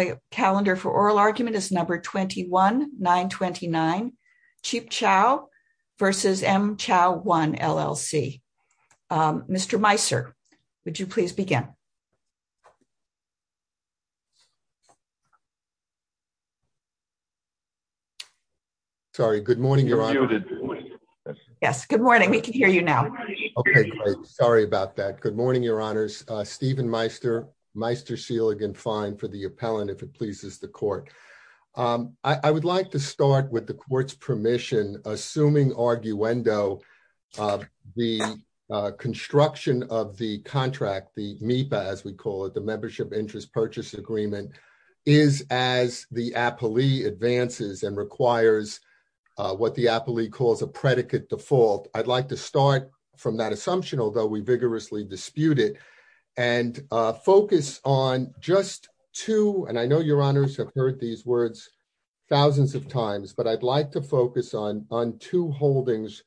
on the calendar for oral argument is number 21929 Cipciao v. M. Chow One, LLC. Mr. Meisser, would you please begin? Sorry, good morning, Your Honor. Yes, good morning. We can hear you now. Okay, great. Sorry about that. Good morning, Your Honors. Stephen Meister, Meister, Shielig and Fine for the appellant, if it pleases the court. I would like to start with the court's permission, assuming arguendo, the construction of the contract, the MIPA, as we call it, the Membership Interest Purchase Agreement, is as the appellee advances and requires what the appellee calls a predicate default. I'd like to start from that assumption, although we vigorously dispute it, and focus on just two, and I know Your Honors have heard these words thousands of times, but I'd like to focus on two holdings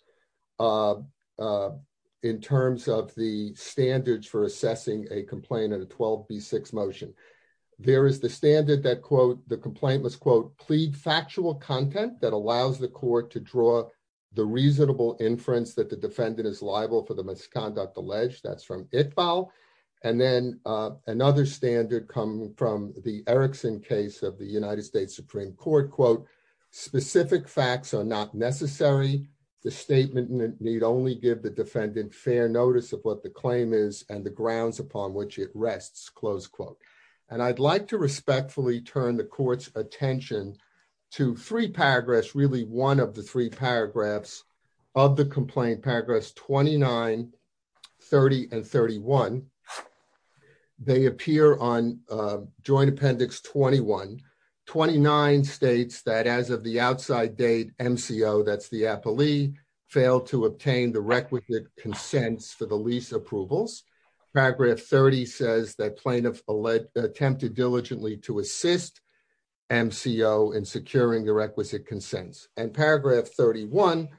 in terms of the standards for assessing a complaint at a 12B6 motion. There is the standard that, quote, the complaint must, quote, plead factual content that allows the court to draw the reasonable inference that the defendant is liable for the misconduct alleged. That's from Itbal. And then another standard coming from the Erickson case of the United States Supreme Court, quote, specific facts are not necessary. The statement need only give the defendant fair notice of what the claim is and the grounds upon which it rests, close quote. And I'd like to respectfully turn the court's attention to three paragraphs, really one of the three paragraphs of the complaint, paragraphs 29, 30, and 31. They appear on Joint Appendix 21. 29 states that as of the outside date, MCO, that's the appellee, failed to obtain the requisite consents for the lease approvals. Paragraph 30 says that plaintiff attempted diligently to assist MCO in securing the requisite consents. And paragraph 31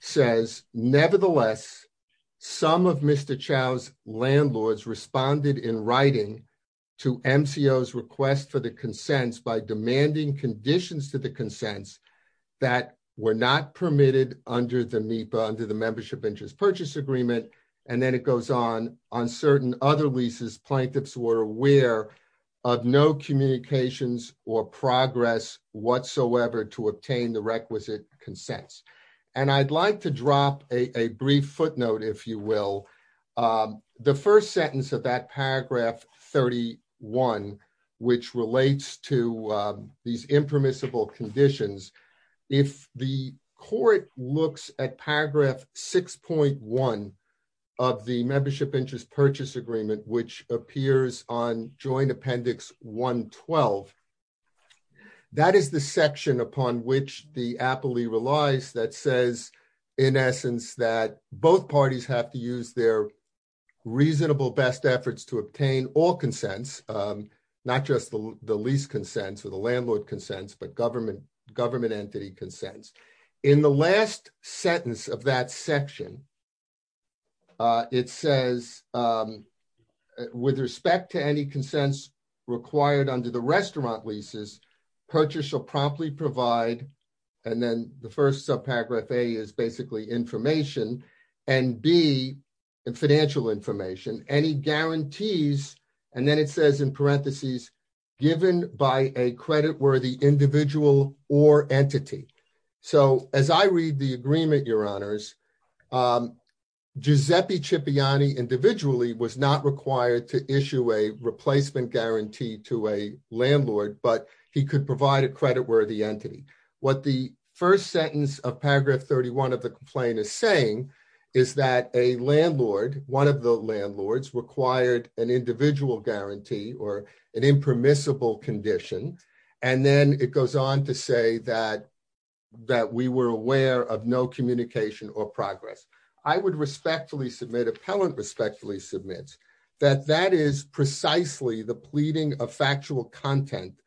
says, nevertheless, some of Mr. Chau's landlords responded in writing to MCO's request for the consents by demanding conditions to the consents that were not permitted under the membership interest purchase agreement. And then it goes on, on certain other leases, plaintiffs were aware of no communications or progress whatsoever to obtain the requisite consents. And I'd like to drop a brief footnote, if you will. The first sentence of that paragraph 31, which relates to these impermissible conditions, if the court looks at paragraph 6.1 of the membership interest purchase agreement, which appears on Joint Appendix 112, that is the section upon which the appellee relies that says, in essence, that both parties have to use their reasonable best efforts to obtain all consents, not just the lease consents or the landlord consents, but government entity consents. In the last sentence of that section, it says, with respect to any consents required under the basically information, and B, in financial information, any guarantees, and then it says in parentheses, given by a credit worthy individual or entity. So as I read the agreement, your honors, Giuseppe Cipriani individually was not required to issue a replacement guarantee to a landlord, but he could provide a credit worthy entity. What the first sentence of paragraph 31 of the complaint is saying is that a landlord, one of the landlords, required an individual guarantee or an impermissible condition, and then it goes on to say that we were aware of no communication or progress. I would respectfully submit, appellant respectfully submits, that that is precisely the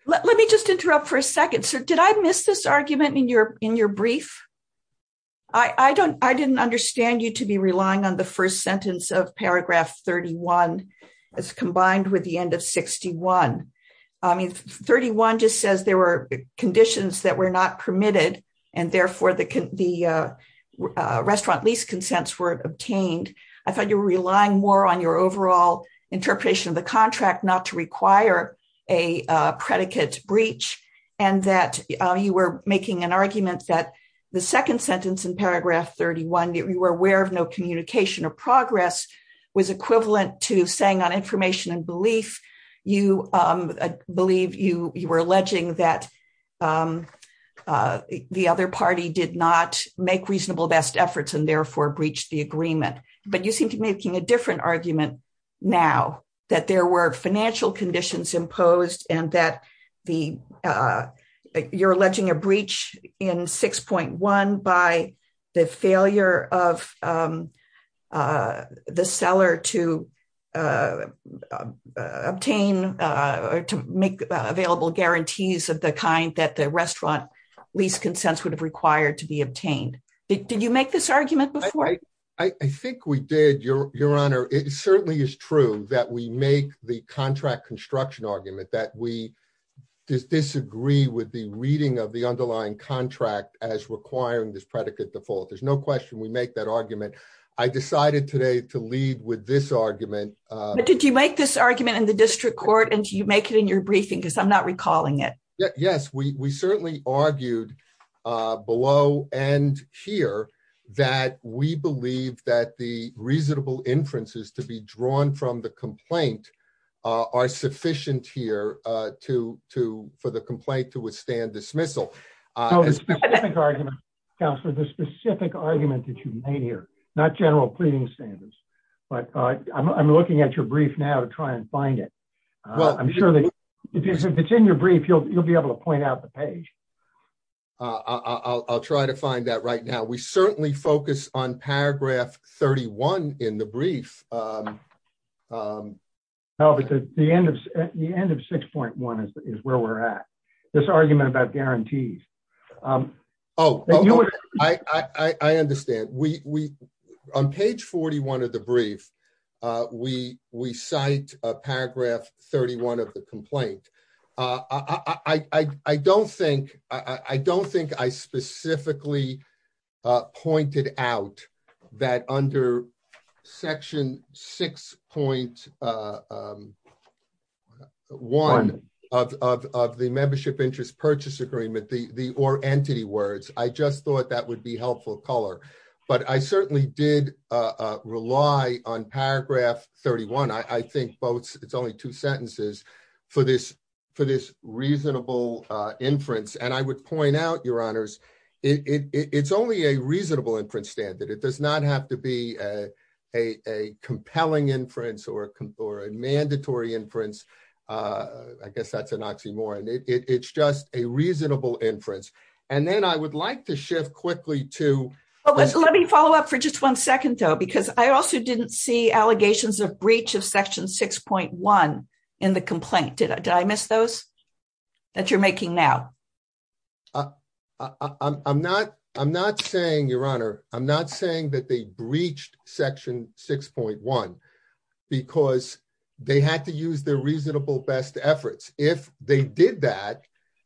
Let me just interrupt for a second, sir. Did I miss this argument in your brief? I didn't understand you to be relying on the first sentence of paragraph 31 as combined with the end of 61. I mean, 31 just says there were conditions that were not permitted, and therefore the restaurant lease consents were obtained. I thought you were relying more on your overall interpretation of the contract not to require a predicate breach, and that you were making an argument that the second sentence in paragraph 31 that we were aware of no communication or progress was equivalent to saying on information and belief, you believe you were alleging that the other party did not make reasonable best efforts and therefore breached the agreement. But you seem to be making a different argument now, that there were financial conditions imposed and that you're alleging a breach in 6.1 by the failure of the seller to obtain or to make available guarantees of the kind that the restaurant lease consents would require to be obtained. Did you make this argument before? I think we did, Your Honor. It certainly is true that we make the contract construction argument that we disagree with the reading of the underlying contract as requiring this predicate default. There's no question we make that argument. I decided today to lead with this argument. But did you make this argument in the district court and you make it in your briefing because I'm not recalling it. Yes, we certainly argued below and here that we believe that the reasonable inferences to be drawn from the complaint are sufficient here for the complaint to withstand dismissal. The specific argument that you made here, not general pleading standards, but I'm looking at your brief now to try and find it. I'm sure that if it's in your brief, you'll be able to point out the page. I'll try to find that right now. We certainly focus on paragraph 31 in the brief. No, but the end of 6.1 is where we're at. This argument about guarantees. Oh, I understand. On page 41 of the brief, we cite paragraph 31 of the complaint. I don't think I specifically pointed out that under section 6.1 of the membership interest purchase agreement, the or entity words, I just thought that would be helpful color. But I certainly did rely on paragraph 31. I think it's only two sentences for this reasonable inference. And I would point out your honors, it's only a reasonable inference standard. It does not have to be a compelling inference or a mandatory inference. I guess that's an oxymoron. It's just a reasonable inference. And then I would like to shift quickly to let me follow up for just one second, though, because I also didn't see allegations of breach of section 6.1 in the complaint. Did I miss those that you're making now? I'm not I'm not saying your honor. I'm not saying that they breached section 6.1 because they had to use their reasonable best efforts. If they did that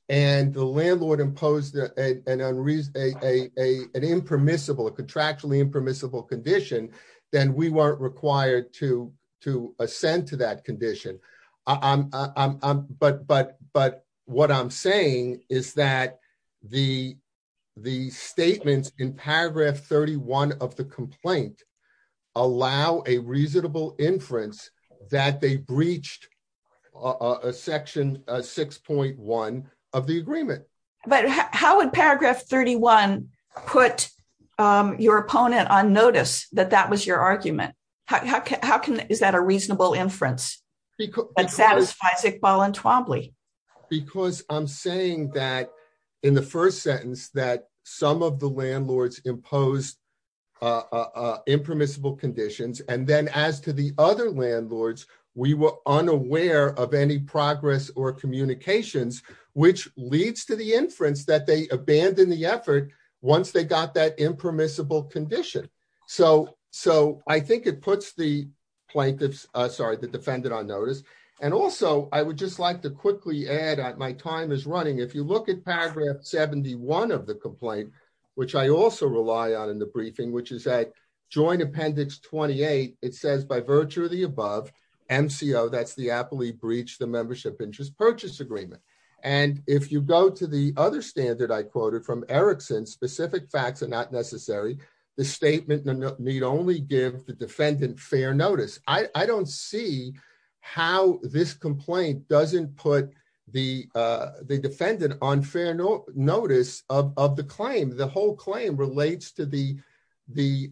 and the landlord imposed an unreasonable a an impermissible contractually impermissible condition, then we weren't required to to ascend to that condition. But but but what I'm saying is that the the statements in paragraph 31 of the complaint allow a reasonable inference that they breached a section 6.1 of the agreement. But how would paragraph 31 put your opponent on notice that that was your argument? How can how can is that a reasonable inference that satisfies Iqbal and Twombly? Because I'm saying that in the first sentence, that some of the landlords imposed impermissible conditions. And then as to the other landlords, we were unaware of any progress or communications, which leads to the inference that they abandoned the effort once they got that impermissible condition. So so I think it puts the plaintiffs sorry, the defendant on notice. And also, I would just like to quickly add that my time is running. If you look at paragraph 71 of the complaint, which I also rely on in the briefing, which is that joint appendix 28, it says by virtue of the above MCO, that's the aptly breached the membership interest purchase agreement. And if you go to the other standard I quoted from Erickson, specific facts are not this complaint doesn't put the defendant on fair notice of the claim, the whole claim relates to the the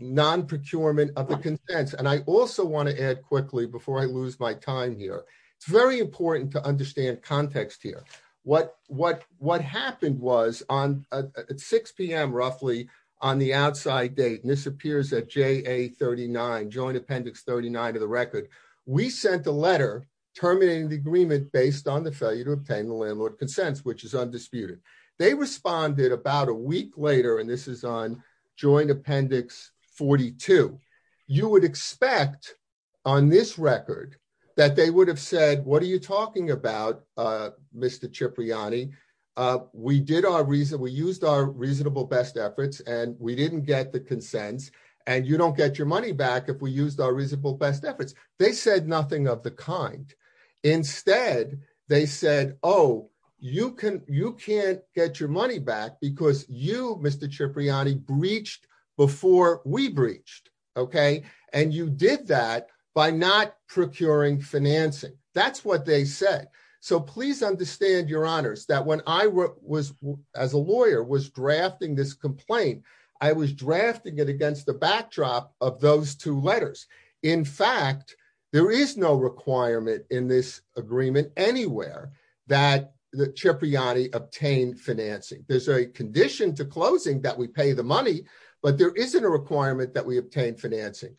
non procurement of the contents. And I also want to add quickly before I lose my time here, it's very important to understand context here. What what what happened was on at 6pm roughly on the outside date, and this appears at j a 39 joint appendix 39 of the record, we sent a letter terminating the agreement based on the failure to obtain the landlord consents, which is undisputed. They responded about a week later, and this is on joint appendix 42. You would expect on this record that they would have said, What are you talking about, Mr. chip Riani, we did our reason we used our reasonable best efforts, and we didn't get the consents, and you don't get your money back. If we used our reasonable best efforts, they said nothing of the kind. Instead, they said, Oh, you can you can't get your money back because you Mr. chip Riani breached before we breached. Okay. And you did that by not procuring financing. That's what they said. So please understand your honors that when I was as a lawyer was drafting this complaint, I was drafting it against the backdrop of those two letters. In fact, there is no requirement in this agreement anywhere that the chip Riani obtained financing. There's a condition to closing that we pay the money, but there isn't a requirement that we obtain financing.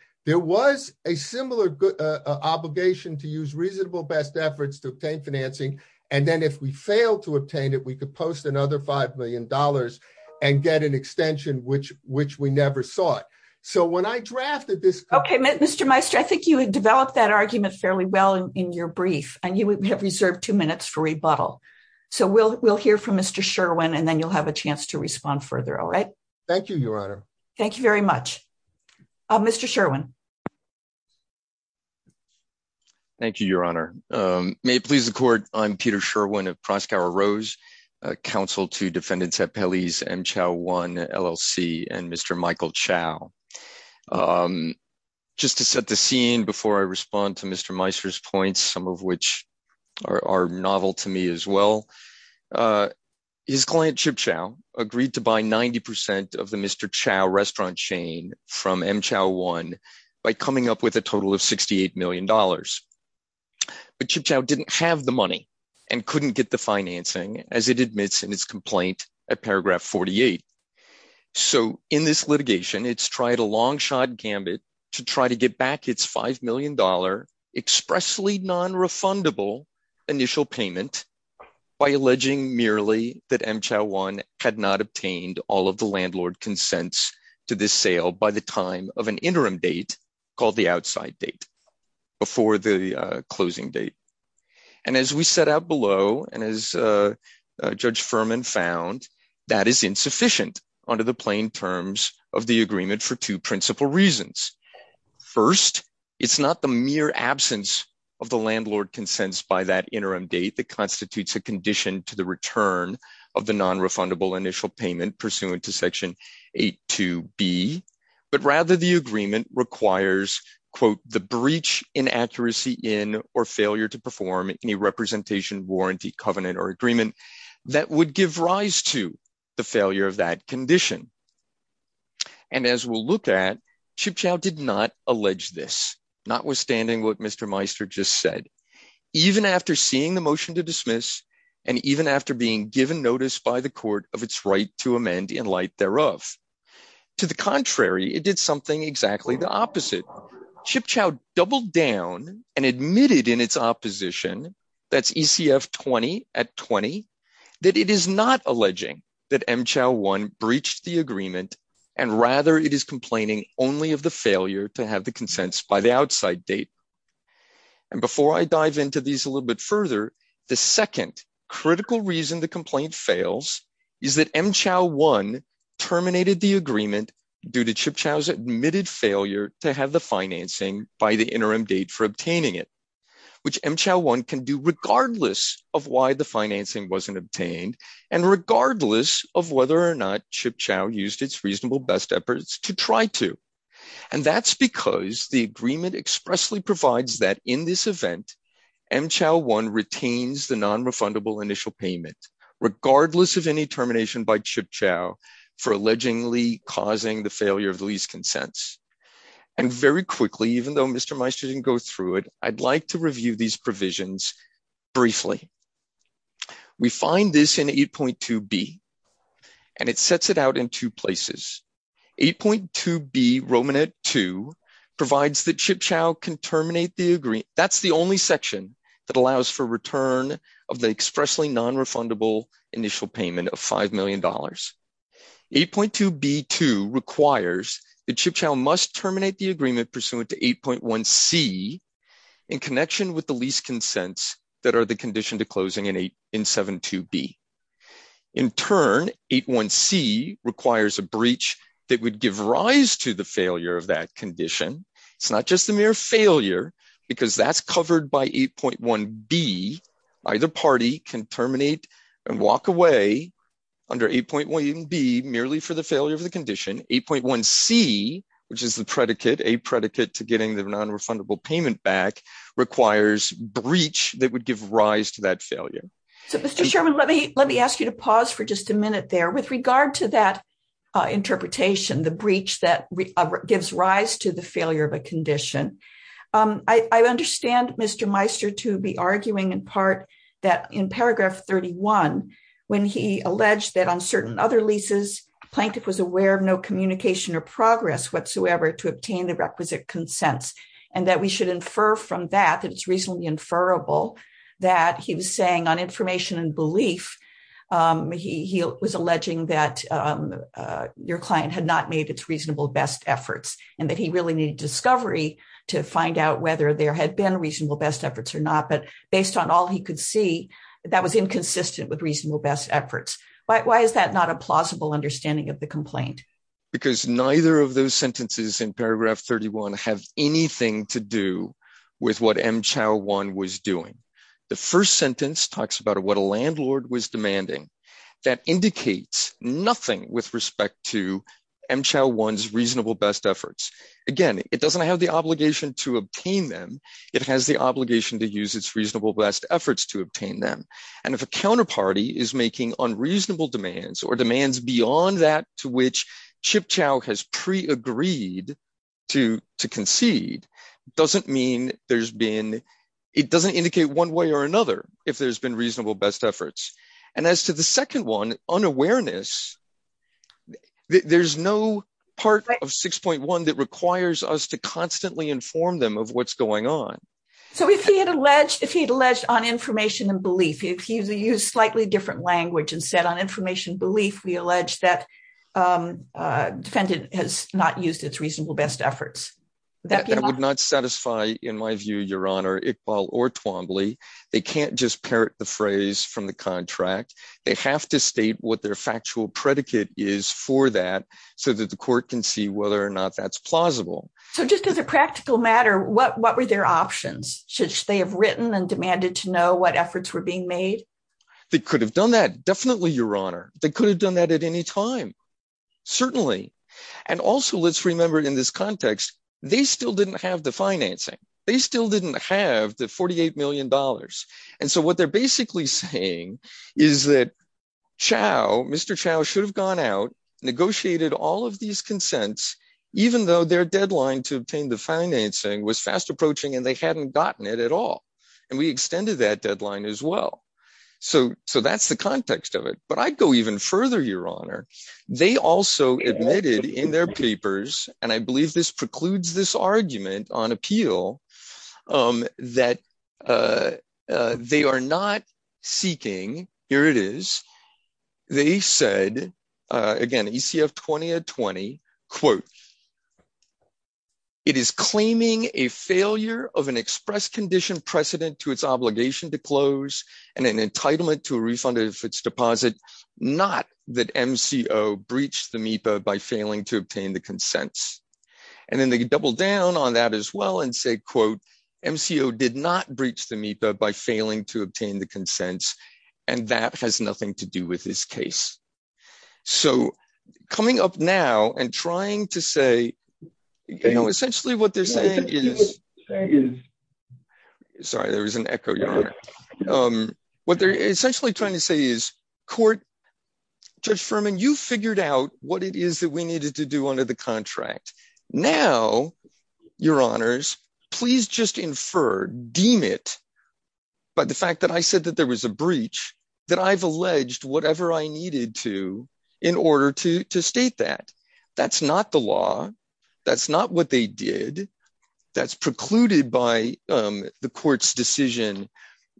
And then if we fail to obtain it, we could post another $5 million and get an extension, which which we never saw it. So when I drafted this, okay, Mr. Meister, I think you had developed that argument fairly well in your brief, and you have reserved two minutes for rebuttal. So we'll we'll hear from Mr. Sherwin. And then you'll have a chance to respond further. All right. Thank you, Your Honor. Thank you very much. Mr. Sherwin. Thank you, Your Honor. May it please the court. I'm Peter Sherwin of Proskauer Rose, counsel to defendants at Pelley's M Chao One LLC and Mr. Michael Chao. Just to set the scene before I respond to Mr. Meister's points, some of which are novel to me as well. His client Chip Chao agreed to buy 90% of the Mr. Chao restaurant chain from M Chao One by coming up with a total of $68 million. But Chip Chao didn't have the money and couldn't get the financing as it admits in his complaint at paragraph 48. So in this litigation, it's tried a long shot gambit to try to get back its $5 million expressly non-refundable initial payment by alleging merely that M Chao One had not obtained all of the landlord consents to this sale by the time of an interim date called the outside date before the closing date. And as we set out below, and as Judge Furman found, that is insufficient under the plain terms of the agreement for two principal reasons. First, it's not the mere absence of the landlord consents by that interim date that constitutes a condition to the return of the non-refundable initial payment pursuant to section 8.2b. But rather the agreement requires the breach inaccuracy in or failure to perform any representation, warranty, covenant or agreement that would give rise to the failure of that condition. And as we'll look at, Chip Chao did not allege this, notwithstanding what Mr. Meister just said. Even after seeing the motion to dismiss and even after being given notice by the court of its right to amend in light thereof. To the contrary, it did something exactly the opposite. Chip Chao doubled down and admitted in its opposition, that's ECF 20 at 20, that it is not alleging that M Chao One breached the agreement and rather it is complaining only of the failure to have the consents by the interim date for obtaining it. And I'm going to dive into these a little bit further. The second critical reason the complaint fails is that M Chao One terminated the agreement due to Chip Chao's admitted failure to have the financing by the interim date for obtaining it. Which M Chao One can do regardless of why the financing wasn't obtained and regardless of whether or not Chip to try to. And that's because the agreement expressly provides that in this event, M Chao One retains the non-refundable initial payment, regardless of any termination by Chip Chao for allegedly causing the failure of the lease consents. And very quickly, even though Mr. Meister didn't go through it, I'd like to review these provisions briefly. We find this in 8.2b and it sets it out in two places. 8.2b Romanette 2 provides that Chip Chao can terminate the agreement. That's the only section that allows for return of the expressly non-refundable initial payment of five million dollars. 8.2b 2 requires that Chip Chao must terminate the agreement pursuant to 8.1c in connection with the lease consents that are the condition to closing in 7.2b. In turn, 8.1c requires a breach that would give rise to the failure of that condition. It's not just the mere failure because that's covered by 8.1b. Either party can terminate and walk away under 8.1b merely for the failure of the condition. 8.1c, which is the predicate, a predicate to getting the non-refundable payment back requires breach that would give rise to that condition. Mr. Chairman, let me ask you to pause for just a minute there. With regard to that interpretation, the breach that gives rise to the failure of a condition, I understand Mr. Meister to be arguing in part that in paragraph 31 when he alleged that on certain other leases, plaintiff was aware of no communication or progress whatsoever to obtain the requisite consents and that we should infer from that that it's reasonably inferable that he was saying on information and belief, he was alleging that your client had not made its reasonable best efforts and that he really needed discovery to find out whether there had been reasonable best efforts or not. But based on all he could see, that was inconsistent with reasonable best efforts. Why is that not a plausible understanding of the complaint? Because neither of those sentences in paragraph 31 have anything to do with what M. Chau Wan was doing. The first sentence talks about what a landlord was demanding. That indicates nothing with respect to M. Chau Wan's reasonable best efforts. Again, it doesn't have the obligation to obtain them. It has the obligation to use its reasonable best efforts to obtain them. And if a counterparty is making unreasonable demands or demands beyond that to which Chip Chau has pre-agreed to concede, doesn't mean there's been, it doesn't indicate one way or another if there's been reasonable best efforts. And as to the second one, unawareness, there's no part of 6.1 that requires us to constantly inform them of what's going on. So if he had alleged, if he'd alleged on information and belief, if he used a slightly different language and said on information belief, we allege that defendant has not used its reasonable best efforts. That would not satisfy, in my view, your honor, Iqbal or Twombly. They can't just parrot the phrase from the contract. They have to state what their factual predicate is for that so that the court can see whether or not that's plausible. So just as a practical matter, what were their options? Should they have written and demanded to know what efforts were being made? They could have done that. Definitely, your honor. They could have done that at any time. Certainly. And also let's remember in this context, they still didn't have the financing. They still didn't have the $48 million. And so what they're basically saying is that Chau, Mr. Chau should have gone out, negotiated all of these consents, even though their deadline to obtain the financing was fast approaching and hadn't gotten it at all. And we extended that deadline as well. So that's the context of it. But I'd go even further, your honor. They also admitted in their papers, and I believe this precludes this argument on appeal, that they are not seeking, here it is, they said, again, ECF 2020, quote, it is claiming a failure of an express condition precedent to its obligation to close and an entitlement to a refund of its deposit, not that MCO breached the MEPA by failing to obtain the consents. And then they double down on that as well and say, quote, MCO did not breach the MEPA by failing to obtain the consents. And that has nothing to do with this case. So coming up now and trying to say, you know, essentially what they're saying is, sorry, there was an echo, your honor. What they're essentially trying to say is, court, Judge Furman, you figured out what it is that we needed to do under the contract. Now, your honors, please just infer, deem it by the fact that I said that there was a breach, that I've alleged whatever I needed to, in order to state that. That's not the law. That's not what they did. That's precluded by the court's decision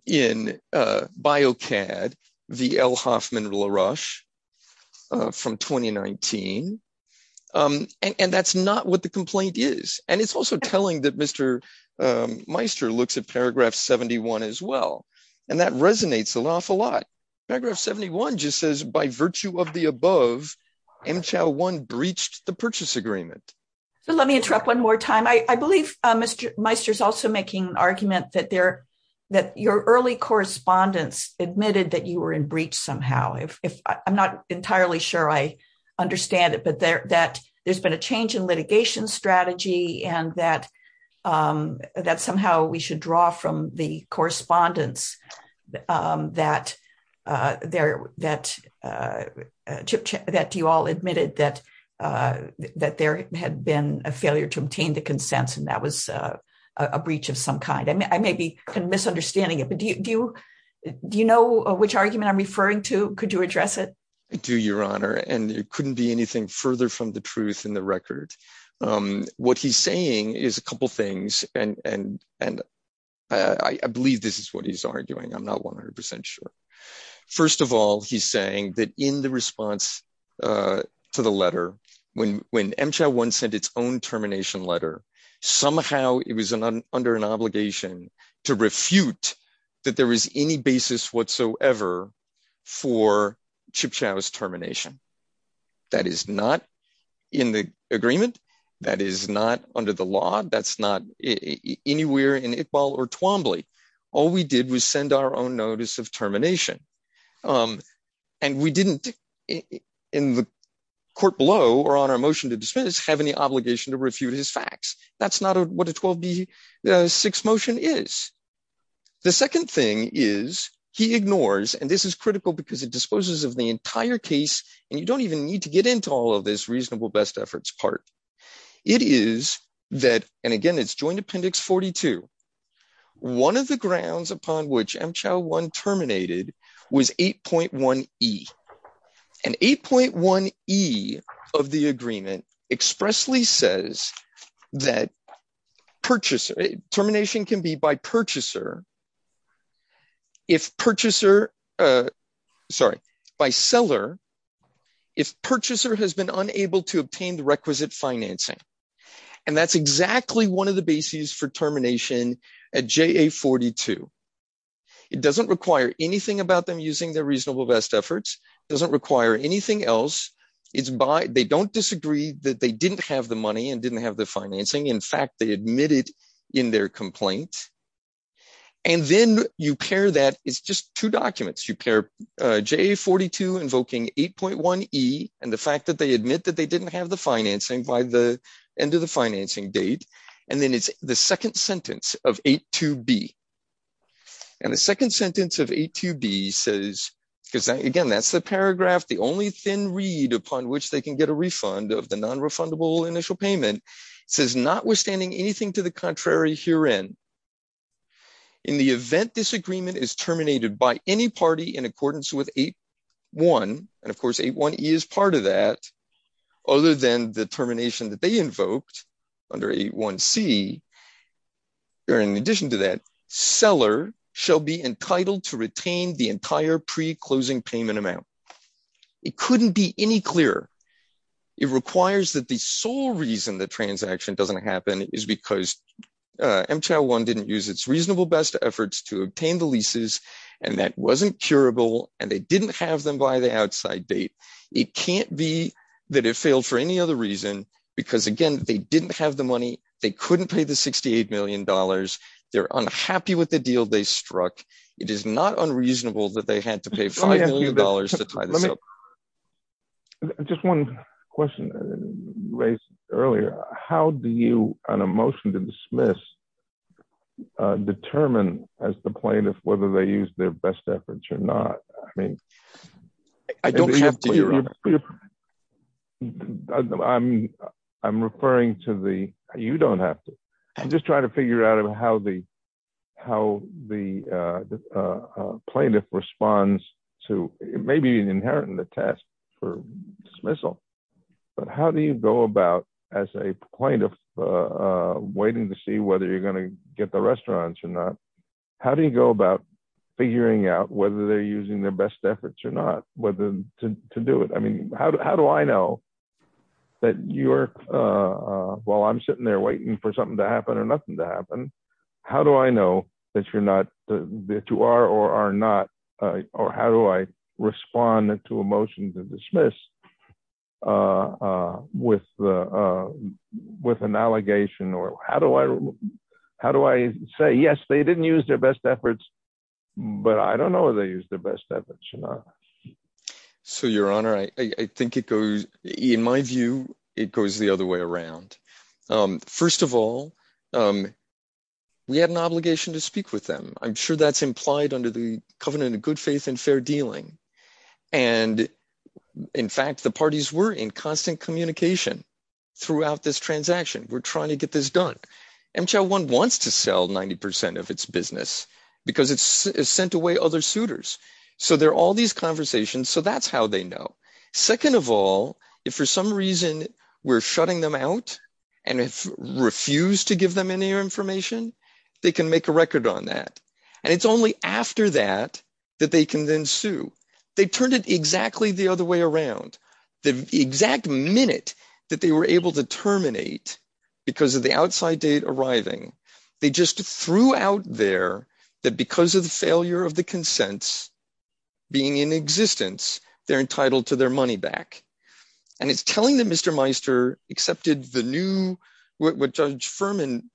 in Biocad v. L. Hoffman-LaRouche from 2019. And that's not what the complaint is. And it's also telling that Mr. Meister looks at paragraph 71 as well. And that resonates an awful lot. Paragraph 71 just says, by virtue of the above, MCHOW 1 breached the purchase agreement. So let me interrupt one more time. I believe Mr. Meister is also making an argument that your early correspondence admitted that you were in entirely sure I understand it, but that there's been a change in litigation strategy and that somehow we should draw from the correspondence that you all admitted that there had been a failure to obtain the consents. And that was a breach of some kind. I may be misunderstanding it. But do you know which argument I'm referring to? Could you address it? I do, Your Honor. And it couldn't be anything further from the truth in the record. What he's saying is a couple of things. And I believe this is what he's arguing. I'm not 100% sure. First of all, he's saying that in the response to the letter, when MCHOW 1 sent its termination letter, somehow it was under an obligation to refute that there was any basis whatsoever for MCHOW 1's termination. That is not in the agreement. That is not under the law. That's not anywhere in Iqbal or Twombly. All we did was send our own notice of termination. And we didn't, in the court below or on our motion to dismiss, have any obligation to refute his facts. That's not what a 12B6 motion is. The second thing is he ignores, and this is critical because it disposes of the entire case, and you don't even need to get into all of this reasonable best efforts part. It is that, and again, it's Joint Appendix 42, one of the grounds upon which MCHOW 1 terminated was 8.1E. And 8.1E of the agreement expressly says that termination can be by purchaser if purchaser, sorry, by seller if purchaser has been unable to obtain the requisite financing. And that's exactly one of the bases for termination at JA42. It doesn't require anything about them using their reasonable best efforts. It doesn't require anything else. It's by, they don't disagree that they didn't have the money and didn't have the financing. In fact, they admitted in their complaint. And then you pair that, it's just two documents. You pair JA42 invoking 8.1E and the fact that they admit that they didn't have the financing by the end of the financing date. And then it's the second sentence of 8.2B. And the second sentence of 8.2B says, because again, that's the paragraph, the only thin read upon which they can get a refund of the non-refundable initial payment, says notwithstanding anything to the contrary herein, in the event this agreement is terminated by any party in accordance with 8.1, and of course 8.1E is part of that, other than the termination that they invoked under 8.1C, or in addition to that, seller shall be entitled to retain the entire pre-closing payment amount. It couldn't be any clearer. It requires that the sole reason the transaction doesn't happen is because MCHOW-1 didn't use its reasonable best efforts to obtain the leases, and that wasn't curable, and they didn't have them by the outside date. It can't be that it didn't have the money. They couldn't pay the $68 million. They're unhappy with the deal they struck. It is not unreasonable that they had to pay $5 million to tie this up. Just one question you raised earlier. How do you, on a motion to dismiss, determine as the plaintiff whether they used their best efforts or not? I mean... I don't have to. I'm referring to the, you don't have to. I'm just trying to figure out how the plaintiff responds to, it may be inherent in the test for dismissal, but how do you go about, as a plaintiff waiting to see whether you're going to get the restaurants or not, how do you go about figuring out whether they're using their best efforts or not to do it? I mean, how do I know that you're, while I'm sitting there waiting for something to happen or nothing to happen, how do I know that you're not, that you are or are not, or how do I respond to a motion to dismiss with an allegation, or how do I say, yes, they didn't use their best efforts, but I don't know if they used their best efforts or not. So, your honor, I think it goes, in my view, it goes the other way around. First of all, we had an obligation to speak with them. I'm sure that's implied under the covenant of good faith and fair dealing. And in fact, the parties were in constant communication throughout this sent away other suitors. So, there are all these conversations. So, that's how they know. Second of all, if for some reason we're shutting them out and refuse to give them any information, they can make a record on that. And it's only after that that they can then sue. They turned it exactly the other way around. The exact minute that they were able to terminate because of the outside date arriving, they just threw out there that because of the failure of the consents being in existence, they're entitled to their money back. And it's telling that Mr. Meister accepted the new, what Judge Furman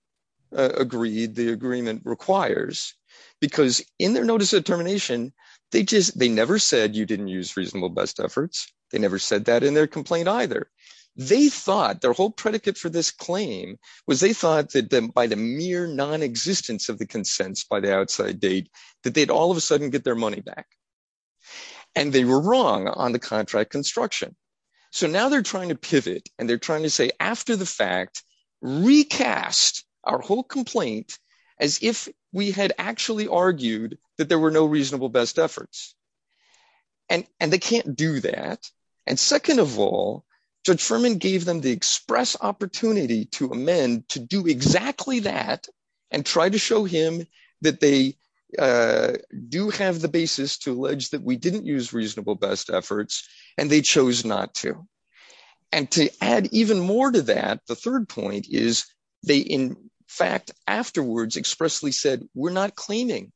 agreed the agreement requires, because in their notice of termination, they just, they never said you didn't use reasonable best efforts. They never said that in their complaint either. They thought their whole predicate for this claim was they thought that by the mere non-existence of the consents by the outside date, that they'd all of a sudden get their money back. And they were wrong on the contract construction. So, now they're trying to pivot and they're trying to say after the fact, recast our whole complaint as if we had actually argued that there were no reasonable best efforts. And they can't do that. And second of all, Judge Furman gave them the express opportunity to amend to do exactly that and try to show him that they do have the basis to allege that we didn't use reasonable best efforts and they chose not to. And to add even more to that, the third point is they in fact afterwards expressly said, we're not claiming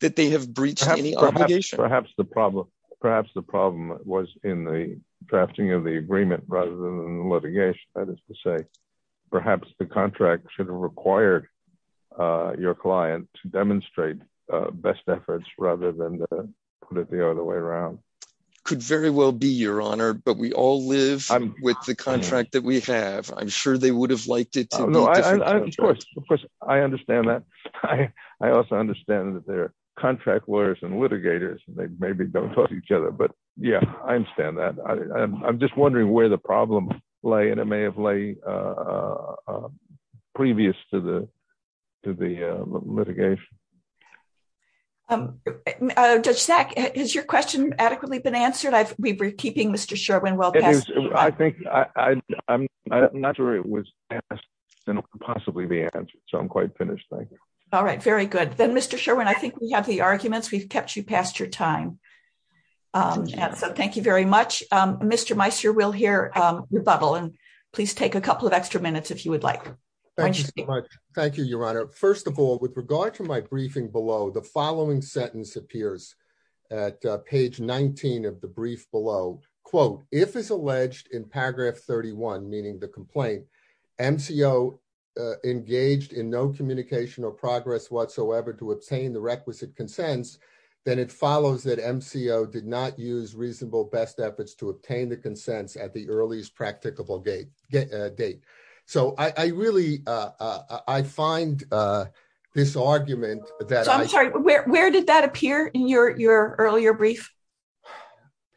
that they have breached any obligation. Perhaps the problem perhaps the problem was in the drafting of the agreement rather than the litigation. That is to say, perhaps the contract should have required your client to demonstrate best efforts rather than to put it the other way around. Could very well be, your honor, but we all live with the contract that we have. I'm sure they would have liked it. Of course, of course I understand that. I also understand that they're contract lawyers and litigators and they maybe don't talk to each other, but yeah, I understand that. I'm just wondering where the problem lay and it may have lay previous to the litigation. Judge Sack, has your question adequately been answered? I've been keeping Mr. Sherwin I think I'm not sure it was asked and possibly the answer. So I'm quite finished. Thank you. All right. Very good. Then Mr. Sherwin, I think we have the arguments we've kept you past your time. So thank you very much. Mr. Meissner, we'll hear rebuttal and please take a couple of extra minutes if you would like. Thank you so much. Thank you, your honor. First of all, with regard to my briefing below, the following sentence appears at page 19 of the brief below, quote, if it's alleged in paragraph 31, meaning the complaint, MCO engaged in no communication or progress whatsoever to obtain the requisite consents, then it follows that MCO did not use reasonable best efforts to obtain the consents at the earliest practicable date. So I really, I find this argument that I'm sorry, where did that appear in your earlier brief?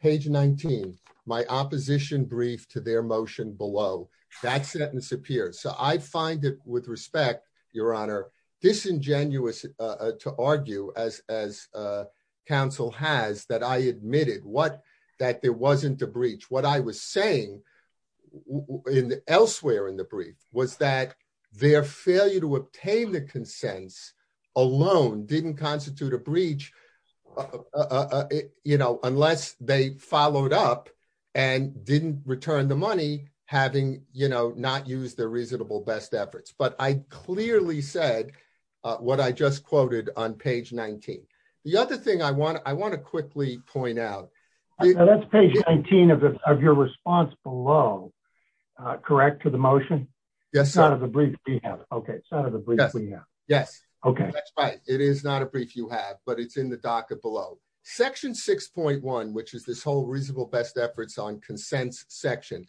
Page 19, my opposition brief to their motion below that sentence appears. So I find it with respect, your honor, disingenuous to argue as council has that I admitted what that there wasn't a brief was that their failure to obtain the consents alone didn't constitute a breach, you know, unless they followed up and didn't return the money having, you know, not used their reasonable best efforts. But I clearly said what I just quoted on page 19. The other thing I want to, I want to quickly point out. That's page 19 of your response below, correct to the motion. Yes, not as a brief. Okay. Yes. Okay. It is not a brief you have, but it's in the docket below section 6.1, which is this whole reasonable best efforts on consents section,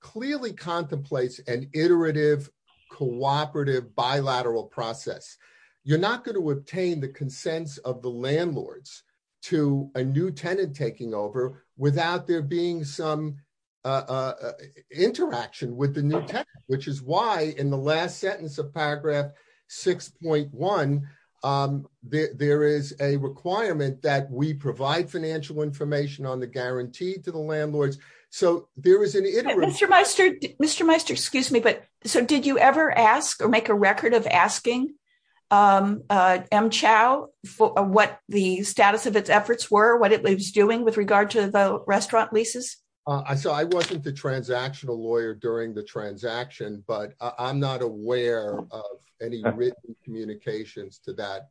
clearly contemplates an iterative cooperative bilateral process. You're not going to obtain the consents of the landlords to a new tenant taking over without there being some interaction with the new tenant, which is why in the last sentence of paragraph 6.1, there is a requirement that we provide financial information on the guarantee to the landlords. So there is an iterative. Mr. Meister, Mr. Meister, excuse me, but so did you ever ask or make a record of asking M Chao for what the status of its efforts were, what it was doing with regard to the restaurant leases? So I wasn't the transactional lawyer during the transaction, but I'm not aware of any written communications to that,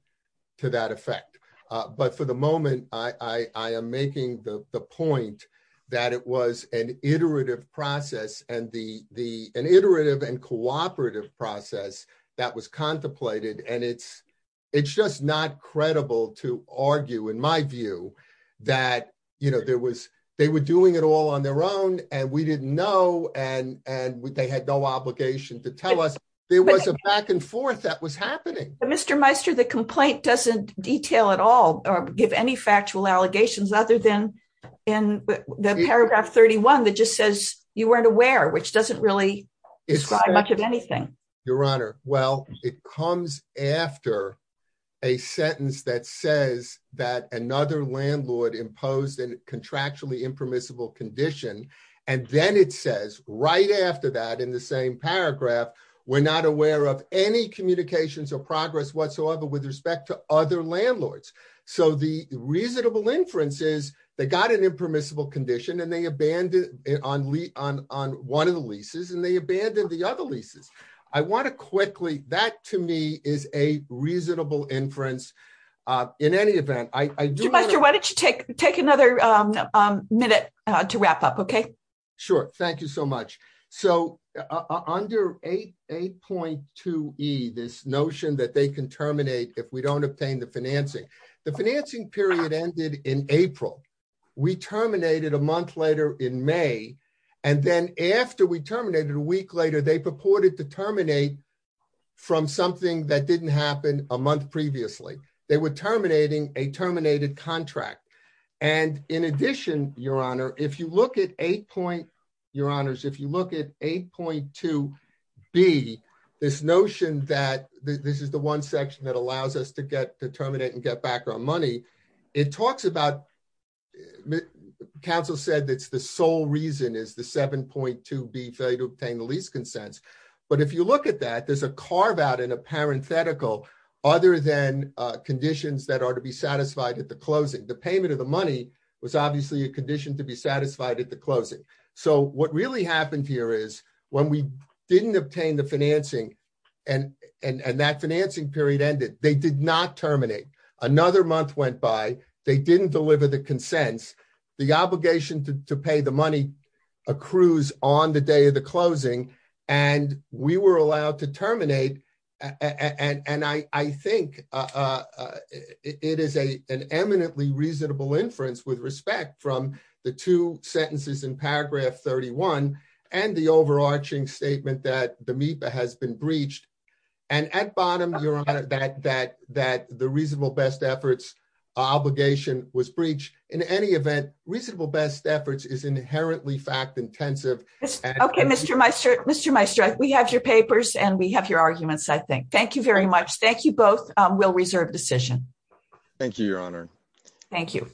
to that effect. But for the moment, I am making the point that it was an iterative process and the, the, an iterative and cooperative process that was contemplated. And it's, it's just not you know, there was, they were doing it all on their own and we didn't know. And, and they had no obligation to tell us there was a back and forth that was happening. Mr. Meister, the complaint doesn't detail at all or give any factual allegations other than in the paragraph 31, that just says you weren't aware, which doesn't really describe much of anything. Your Honor. Well, it comes after a sentence that says that another landlord imposed a contractually impermissible condition. And then it says right after that, in the same paragraph, we're not aware of any communications or progress whatsoever with respect to other landlords. So the reasonable inference is they got an impermissible condition and they abandoned on, on, on one of the leases and they abandoned the other leases. I want to quickly, that to me is a reasonable inference. In any event, I do. Mr. Meister, why don't you take, take another minute to wrap up. Okay. Sure. Thank you so much. So under 8.2E, this notion that they can terminate if we don't obtain the financing, the financing period ended in April. We terminated a month later in May. And then after we terminated a week later, they purported to terminate from something that didn't happen a month previously. They were terminating a terminated contract. And in addition, Your Honor, if you look at 8.2B, this notion that this is the one that's the sole reason is the 7.2B failure to obtain the lease consents. But if you look at that, there's a carve out in a parenthetical other than conditions that are to be satisfied at the closing. The payment of the money was obviously a condition to be satisfied at the closing. So what really happened here is when we didn't obtain the financing and that financing period ended, they did not terminate. Another month went by, they didn't deliver the consents. The obligation to pay the money accrues on the day of the closing. And we were allowed to terminate. And I think it is an eminently reasonable inference with respect from the two sentences in paragraph 31 and the overarching statement that the MEPA has been breached. And at bottom, Your Honor, that the reasonable best efforts obligation was breached in any event, reasonable best efforts is inherently fact intensive. Okay, Mr. Meister, Mr. Meister, we have your papers and we have your arguments, I think. Thank you very much. Thank you both. We'll reserve decision. Thank you, Your Honor. Thank you.